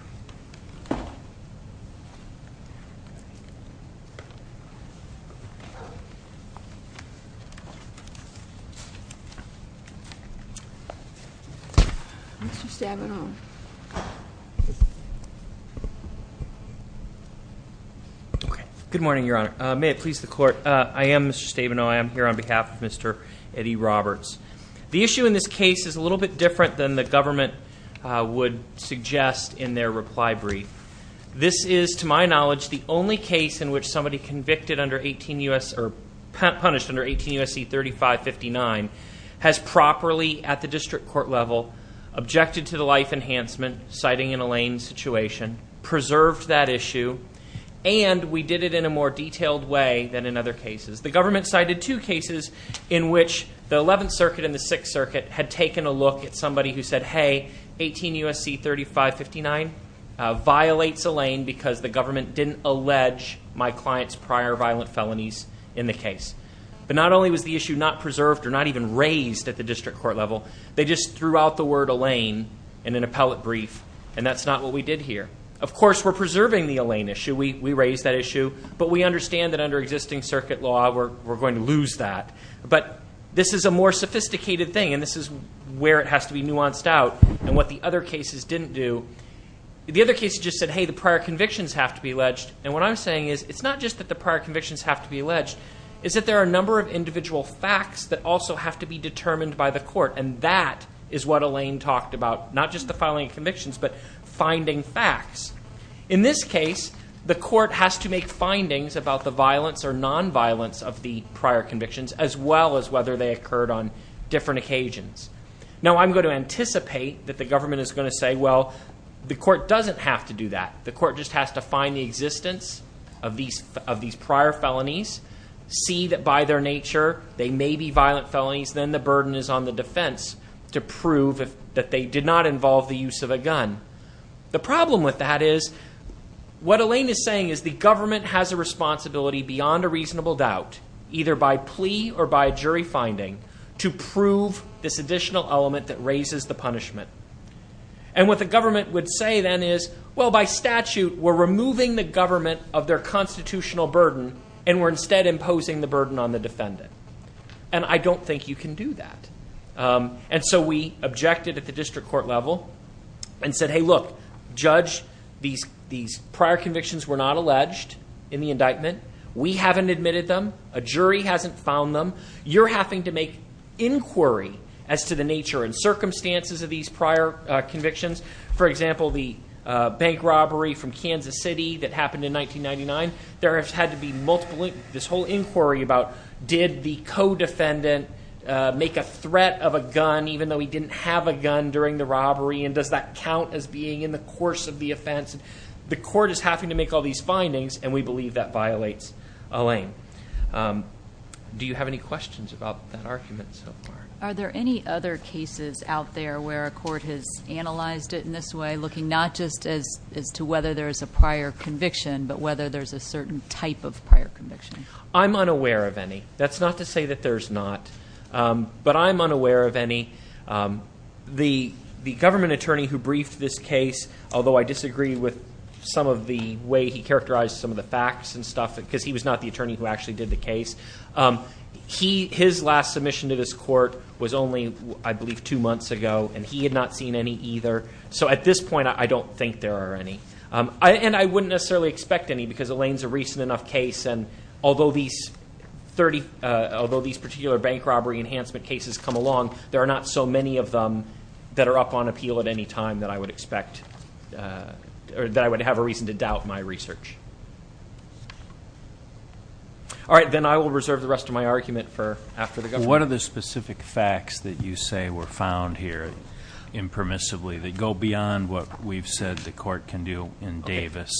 Mr. Stabenow Good morning, Your Honor. May it please the Court, I am Mr. Stabenow. I am here on behalf of Mr. Eddie Roberts. The issue in this case is a little bit different than the government would suggest in their reply brief. This is, to my knowledge, the only case in which somebody convicted under 18 U.S. or punished under 18 U.S.C. 3559 has properly, at the district court level, objected to the life enhancement, citing an Elaine situation, preserved that issue, and we did it in a more detailed way than in other cases. The government cited two cases in which the 11th Circuit and the 6th Circuit had taken a look at somebody who said, hey, 18 U.S.C. 3559 violates Elaine because the government didn't allege my client's prior violent felonies in the case. But not only was the issue not preserved or not even raised at the district court level, they just threw out the word Elaine in an appellate brief, and that's not what we did here. Of course, we're preserving the Elaine issue. We raised that issue. But we understand that under existing circuit law, we're going to lose that. But this is a more sophisticated thing, and this is where it has to be nuanced out. And what the other cases didn't do, the other cases just said, hey, the prior convictions have to be alleged. And what I'm saying is it's not just that the prior convictions have to be alleged. It's that there are a number of individual facts that also have to be determined by the court, and that is what Elaine talked about, not just the filing of convictions but finding facts. In this case, the court has to make findings about the violence or nonviolence of the prior convictions as well as whether they occurred on different occasions. Now, I'm going to anticipate that the government is going to say, well, the court doesn't have to do that. The court just has to find the existence of these prior felonies, see that by their nature they may be violent felonies, then the burden is on the defense to prove that they did not involve the use of a gun. The problem with that is what Elaine is saying is the government has a responsibility beyond a reasonable doubt, either by plea or by jury finding, to prove this additional element that raises the punishment. And what the government would say then is, well, by statute, we're removing the government of their constitutional burden and we're instead imposing the burden on the defendant, and I don't think you can do that. And so we objected at the district court level and said, hey, look, judge, these prior convictions were not alleged in the indictment. We haven't admitted them. A jury hasn't found them. You're having to make inquiry as to the nature and circumstances of these prior convictions. For example, the bank robbery from Kansas City that happened in 1999. There has had to be multiple, this whole inquiry about did the co-defendant make a threat of a gun, even though he didn't have a gun during the robbery, and does that count as being in the course of the offense? The court is having to make all these findings, and we believe that violates Elaine. Do you have any questions about that argument so far? Are there any other cases out there where a court has analyzed it in this way, and looking not just as to whether there is a prior conviction but whether there's a certain type of prior conviction? I'm unaware of any. That's not to say that there's not, but I'm unaware of any. The government attorney who briefed this case, although I disagree with some of the way he characterized some of the facts and stuff, because he was not the attorney who actually did the case, his last submission to this court was only, I believe, two months ago, and he had not seen any either. So at this point, I don't think there are any. And I wouldn't necessarily expect any, because Elaine's a recent enough case, and although these particular bank robbery enhancement cases come along, there are not so many of them that are up on appeal at any time that I would expect, or that I would have a reason to doubt my research. All right, then I will reserve the rest of my argument for after the government attorney. So what are the specific facts that you say were found here impermissibly that go beyond what we've said the court can do in Davis?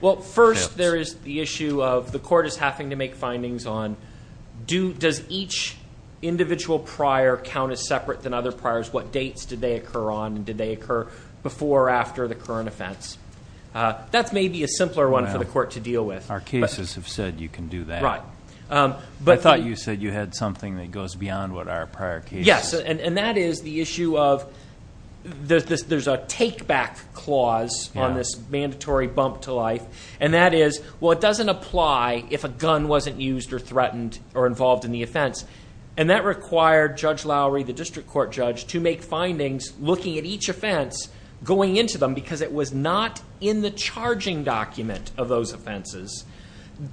Well, first there is the issue of the court is having to make findings on does each individual prior count as separate than other priors? What dates did they occur on, and did they occur before or after the current offense? That's maybe a simpler one for the court to deal with. Our cases have said you can do that. Right. I thought you said you had something that goes beyond what our prior cases. Yes, and that is the issue of there's a take-back clause on this mandatory bump to life, and that is, well, it doesn't apply if a gun wasn't used or threatened or involved in the offense. And that required Judge Lowry, the district court judge, to make findings looking at each offense going into them because it was not in the charging document of those offenses.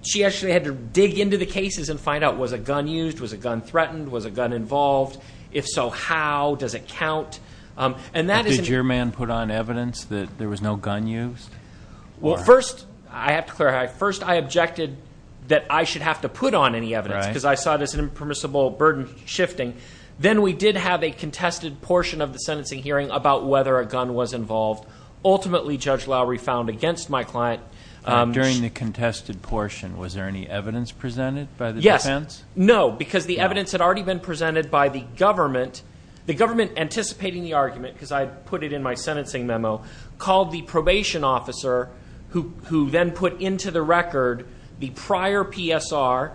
She actually had to dig into the cases and find out, was a gun used? Was a gun threatened? Was a gun involved? If so, how? Does it count? Did your man put on evidence that there was no gun used? Well, first, I have to clarify, first I objected that I should have to put on any evidence because I saw it as an impermissible burden shifting. Then we did have a contested portion of the sentencing hearing about whether a gun was involved. Ultimately, Judge Lowry found against my client. During the contested portion, was there any evidence presented by the defense? Yes. No, because the evidence had already been presented by the government. The government, anticipating the argument, because I put it in my sentencing memo, called the probation officer who then put into the record the prior PSR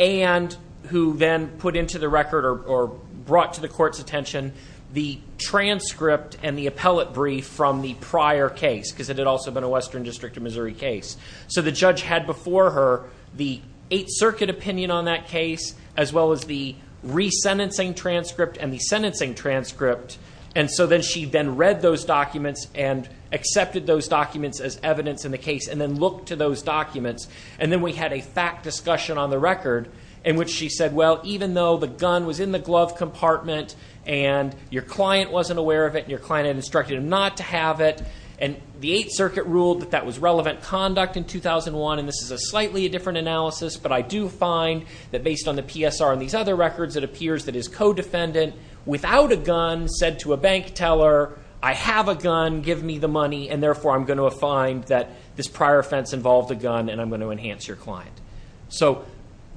and who then put into the record or brought to the court's attention the transcript and the appellate brief from the prior case because it had also been a Western District of Missouri case. The judge had before her the Eighth Circuit opinion on that case as well as the resentencing transcript and the sentencing transcript. Then she then read those documents and accepted those documents as evidence in the case and then looked to those documents. Then we had a fact discussion on the record in which she said, even though the gun was in the glove compartment and your client wasn't aware of it and your client had instructed him not to have it, and the Eighth Circuit ruled that that was relevant conduct in 2001, and this is a slightly different analysis, but I do find that based on the PSR and these other records, it appears that his co-defendant, without a gun, said to a bank teller, I have a gun, give me the money, and therefore I'm going to find that this prior offense involved a gun and I'm going to enhance your client. So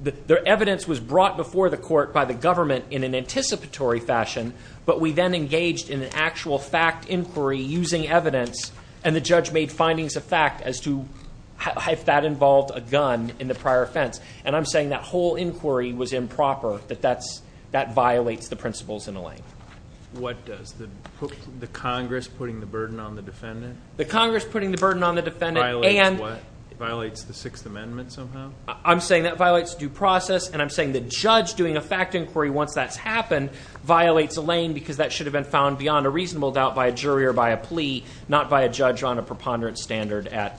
the evidence was brought before the court by the government in an anticipatory fashion, but we then engaged in an actual fact inquiry using evidence and the judge made findings of fact as to if that involved a gun in the prior offense. And I'm saying that whole inquiry was improper, that that violates the principles in a way. What does? The Congress putting the burden on the defendant? The Congress putting the burden on the defendant and Violates the Sixth Amendment somehow? I'm saying that violates due process, and I'm saying the judge doing a fact inquiry once that's happened violates a lane because that should have been found beyond a reasonable doubt by a jury or by a plea, not by a judge on a preponderance standard at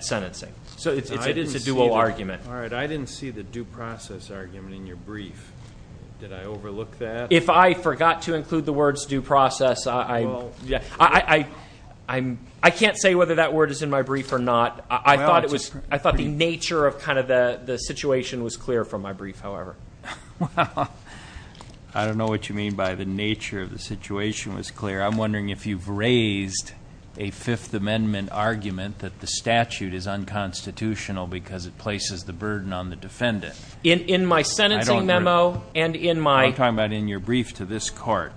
sentencing. So it's a dual argument. All right. I didn't see the due process argument in your brief. Did I overlook that? If I forgot to include the words due process, I can't say whether that word is in my brief or not. I thought the nature of kind of the situation was clear from my brief, however. Well, I don't know what you mean by the nature of the situation was clear. I'm wondering if you've raised a Fifth Amendment argument that the statute is unconstitutional because it places the burden on the defendant. In my sentencing memo and in my. We're talking about in your brief to this court.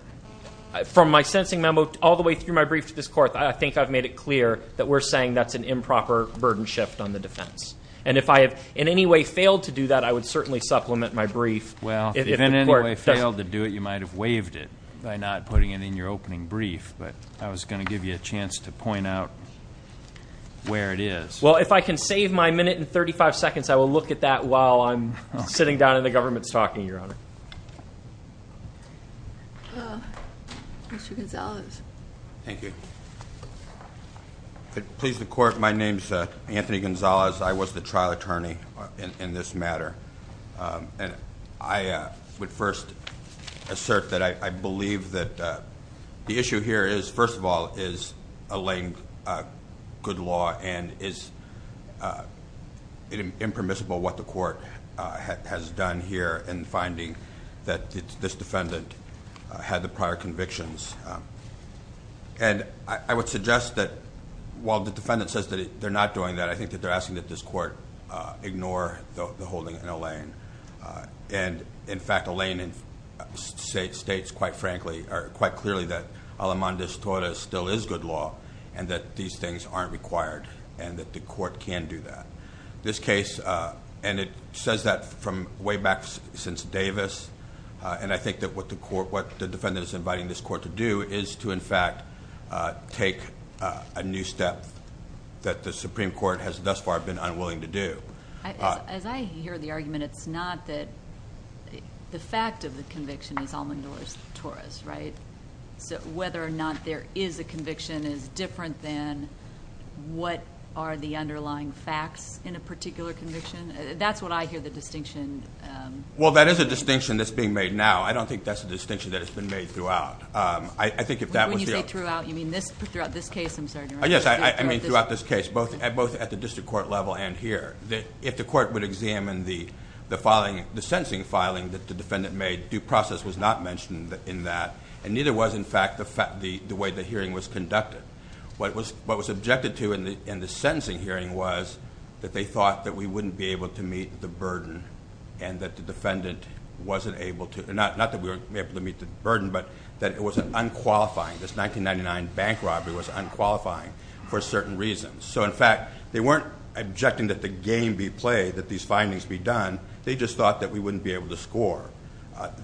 From my sentencing memo all the way through my brief to this court, I think I've made it clear that we're saying that's an improper burden shift on the defense. And if I have in any way failed to do that, I would certainly supplement my brief. Well, if in any way failed to do it, you might have waived it by not putting it in your opening brief. But I was going to give you a chance to point out where it is. Well, if I can save my minute and 35 seconds, I will look at that while I'm sitting down in the government's talking, Your Honor. Mr. Gonzalez. Thank you. Please, the court, my name's Anthony Gonzalez. I was the trial attorney in this matter. And I would first assert that I believe that the issue here is, first of all, is a laying good law and is impermissible what the court has done here in finding that this defendant had the prior convictions. And I would suggest that while the defendant says that they're not doing that, I think that they're asking that this court ignore the holding in a lane. And, in fact, a lane states, quite frankly, or quite clearly, that a la manda estora still is good law and that these things aren't required and that the court can do that. This case, and it says that from way back since Davis, and I think that what the defendant is inviting this court to do is to, in fact, take a new step that the Supreme Court has thus far been unwilling to do. As I hear the argument, it's not that... The fact of the conviction is all the doors to Torres, right? Whether or not there is a conviction is different than what are the underlying facts in a particular conviction. That's what I hear the distinction. Well, that is a distinction that's being made now. I don't think that's a distinction that has been made throughout. I think if that was the... When you say throughout, you mean throughout this case, I'm sorry. Yes, I mean throughout this case, both at the district court level and here. If the court would examine the sentencing filing that the defendant made, due process was not mentioned in that, and neither was, in fact, the way the hearing was conducted. What was objected to in the sentencing hearing was that they thought that we wouldn't be able to meet the burden and that the defendant wasn't able to... Not that we weren't able to meet the burden, but that it was unqualifying. This 1999 bank robbery was unqualifying for certain reasons. So, in fact, they weren't objecting that the game be played, that these findings be done. They just thought that we wouldn't be able to score,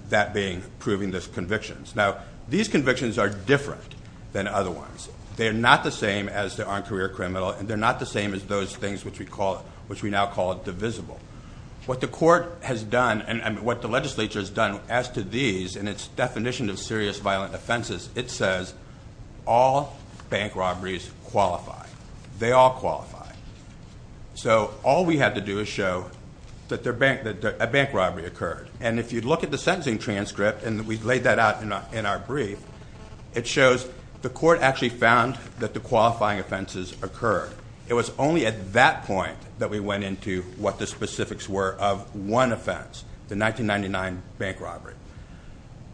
that being proving the convictions. Now, these convictions are different than other ones. They are not the same as the on-career criminal, and they're not the same as those things which we now call divisible. What the court has done and what the legislature has done as to these in its definition of serious violent offenses, it says all bank robberies qualify. They all qualify. So, all we had to do is show that a bank robbery occurred. And if you look at the sentencing transcript, and we laid that out in our brief, it shows the court actually found that the qualifying offenses occurred. It was only at that point that we went into what the specifics were of one offense, the 1999 bank robbery.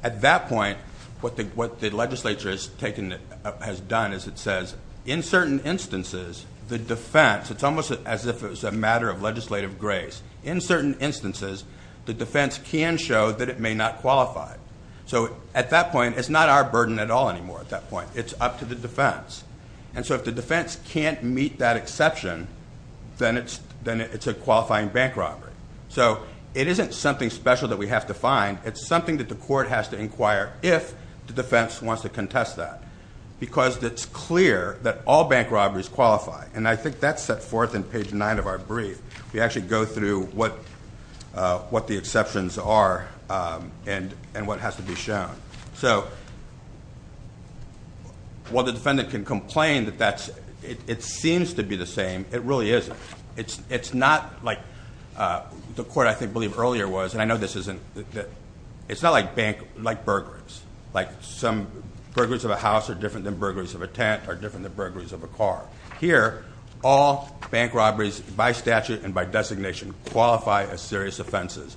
At that point, what the legislature has done is it says, in certain instances, the defense, it's almost as if it was a matter of legislative grace. In certain instances, the defense can show that it may not qualify. So, at that point, it's not our burden at all anymore at that point. It's up to the defense. And so, if the defense can't meet that exception, then it's a qualifying bank robbery. So, it isn't something special that we have to find. It's something that the court has to inquire if the defense wants to contest that. Because it's clear that all bank robberies qualify. And I think that's set forth in page nine of our brief. We actually go through what the exceptions are and what has to be shown. So, while the defendant can complain that it seems to be the same, it really isn't. It's not like the court, I believe, earlier was. And I know this isn't. It's not like burglaries. Like some burglaries of a house are different than burglaries of a tent are different than burglaries of a car. Here, all bank robberies by statute and by designation qualify as serious offenses.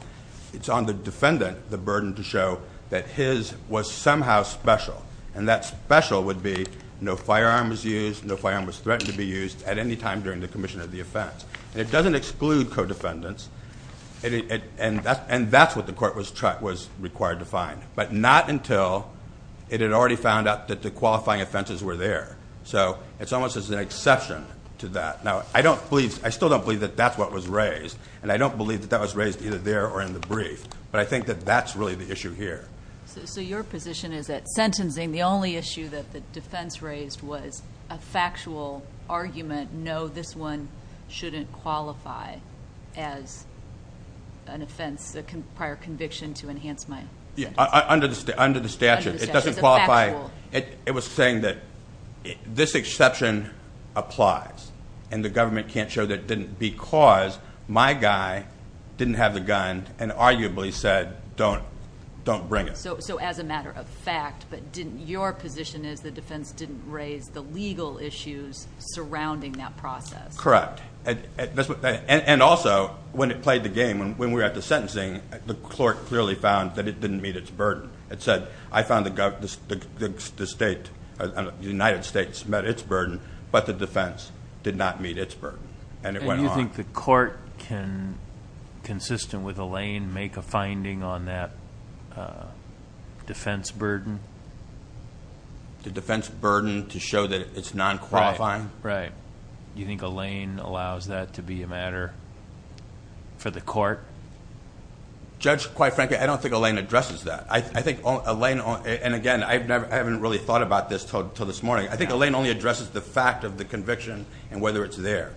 It's on the defendant the burden to show that his was somehow special. And that special would be no firearm was used, no firearm was threatened to be used at any time during the commission of the offense. And it doesn't exclude co-defendants. And that's what the court was required to find. But not until it had already found out that the qualifying offenses were there. So, it's almost as an exception to that. Now, I still don't believe that that's what was raised. And I don't believe that that was raised either there or in the brief. But I think that that's really the issue here. So, your position is that sentencing, the only issue that the defense raised was a factual argument, no, this one shouldn't qualify as an offense, a prior conviction to enhance my- Under the statute. It doesn't qualify. It was saying that this exception applies. And the government can't show that it didn't because my guy didn't have the gun and arguably said don't bring it. So, as a matter of fact, but your position is the defense didn't raise the legal issues surrounding that process. Correct. And also, when it played the game, when we were at the sentencing, the court clearly found that it didn't meet its burden. It said, I found the United States met its burden, but the defense did not meet its burden. And it went on. Do you think the court can, consistent with Elaine, make a finding on that defense burden? The defense burden to show that it's non-qualifying? Right. Do you think Elaine allows that to be a matter for the court? Judge, quite frankly, I don't think Elaine addresses that. I think Elaine, and again, I haven't really thought about this until this morning. I think Elaine only addresses the fact of the conviction and whether it's there.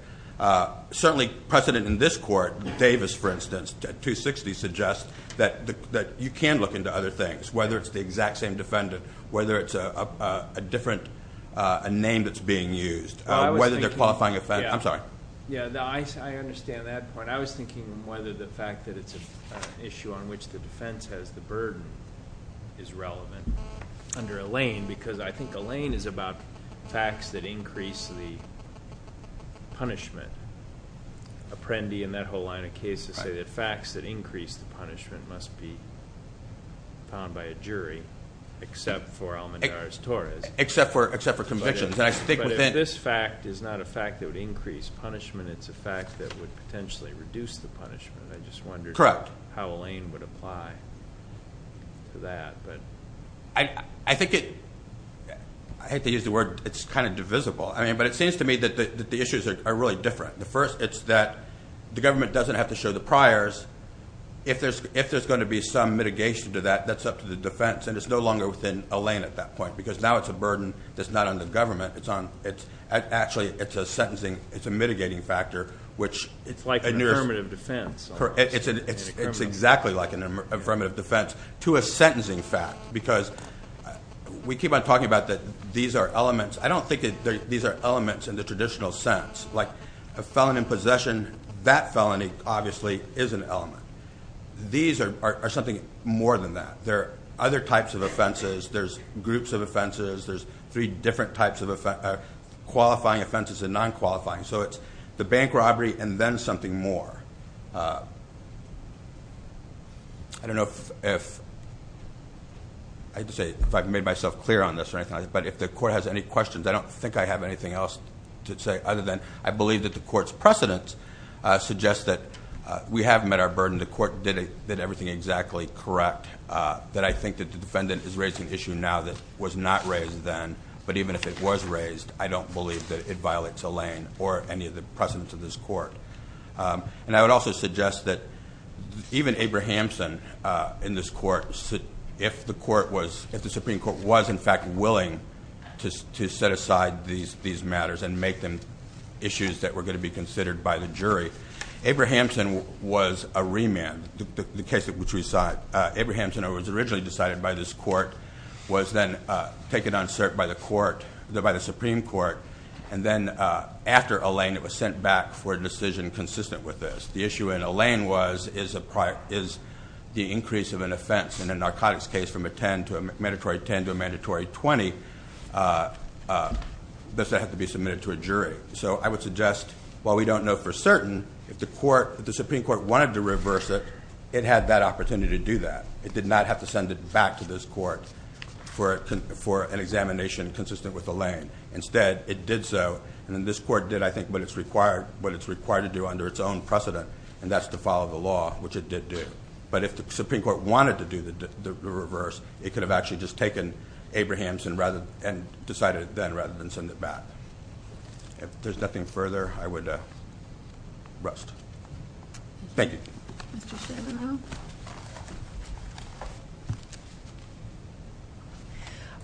Certainly precedent in this court, Davis, for instance, 260, suggests that you can look into other things, whether it's the exact same defendant, whether it's a different name that's being used, whether they're qualifying offense. I'm sorry. Yeah, no, I understand that point. I was thinking whether the fact that it's an issue on which the defense has the burden is relevant under Elaine because I think Elaine is about facts that increase the punishment. Apprendi and that whole line of cases say that facts that increase the punishment must be found by a jury, except for Almendar's Torres. Except for convictions, and I stick with it. But if this fact is not a fact that would increase punishment, it's a fact that would potentially reduce the punishment. I just wondered how Elaine would apply to that. I hate to use the word, it's kind of divisible. But it seems to me that the issues are really different. The first, it's that the government doesn't have to show the priors. If there's going to be some mitigation to that, that's up to the defense, and it's no longer within Elaine at that point because now it's a burden that's not on the government. Actually, it's a mitigating factor, which- It's like an affirmative defense. It's exactly like an affirmative defense to a sentencing fact because we keep on talking about that these are elements. I don't think that these are elements in the traditional sense. Like a felon in possession, that felony obviously is an element. These are something more than that. There are other types of offenses. There's groups of offenses. There's three different types of qualifying offenses and non-qualifying. It's the bank robbery and then something more. I don't know if I've made myself clear on this or anything, but if the court has any questions, I don't think I have anything else to say other than I believe that the court's precedent suggests that we have met our burden. The court did everything exactly correct. I think that the defendant is raising an issue now that was not raised then, but even if it was raised, I don't believe that it violates a lane or any of the precedents of this court. I would also suggest that even Abrahamson in this court, if the Supreme Court was in fact willing to set aside these matters and make them issues that were going to be considered by the jury, Abrahamson was a remand, the case which we saw. Abrahamson was originally decided by this court, was then taken on cert by the Supreme Court, and then after a lane it was sent back for a decision consistent with this. The issue in a lane is the increase of an offense in a narcotics case from a 10 to a mandatory 10 to a mandatory 20. Does that have to be submitted to a jury? So I would suggest, while we don't know for certain, if the Supreme Court wanted to reverse it, it had that opportunity to do that. It did not have to send it back to this court for an examination consistent with a lane. Instead, it did so, and this court did, I think, what it's required to do under its own precedent, and that's to follow the law, which it did do. But if the Supreme Court wanted to do the reverse, it could have actually just taken Abrahamson and decided it then rather than send it back. If there's nothing further, I would rest. Thank you.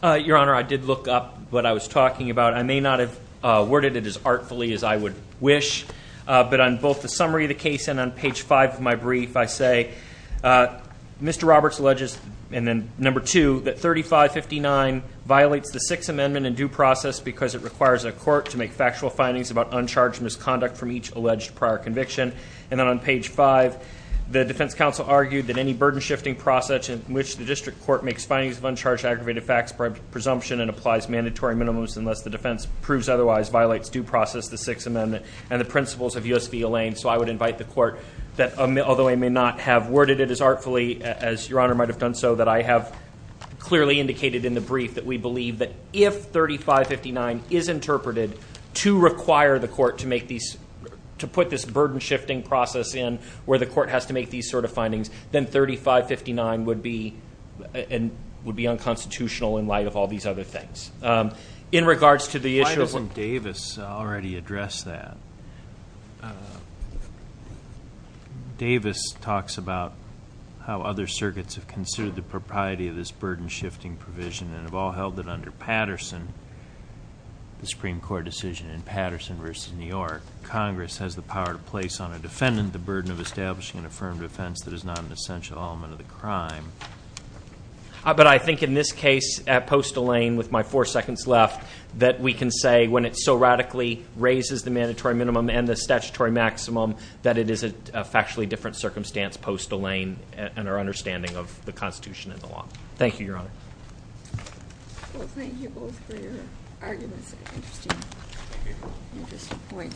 Your Honor, I did look up what I was talking about. I may not have worded it as artfully as I would wish, but on both the summary of the case and on page 5 of my brief, I say, Mr. Roberts alleges, and then number 2, that 3559 violates the Sixth Amendment in due process because it requires a court to make factual findings about uncharged misconduct from each alleged prior conviction. And then on page 5, the defense counsel argued that any burden-shifting process in which the district court makes findings of uncharged aggravated facts by presumption and applies mandatory minimums unless the defense proves otherwise violates due process, the Sixth Amendment, and the principles of U.S. v. Elaine. So I would invite the court that although I may not have worded it as artfully as Your Honor might have done so, that I have clearly indicated in the brief that we believe that if 3559 is interpreted to require the court to make these to put this burden-shifting process in where the court has to make these sort of findings, then 3559 would be unconstitutional in light of all these other things. In regards to the issue of – Why doesn't Davis already address that? Davis talks about how other circuits have considered the propriety of this burden-shifting provision and have all held that under Patterson, the Supreme Court decision in Patterson v. New York, Congress has the power to place on a defendant the burden of establishing an affirmed offense that is not an essential element of the crime. But I think in this case, at post-Elaine, with my four seconds left, that we can say when it so radically raises the mandatory minimum and the statutory maximum that it is a factually different circumstance post-Elaine and our understanding of the Constitution and the law. Thank you, Your Honor. Well, thank you both for your arguments and interesting points.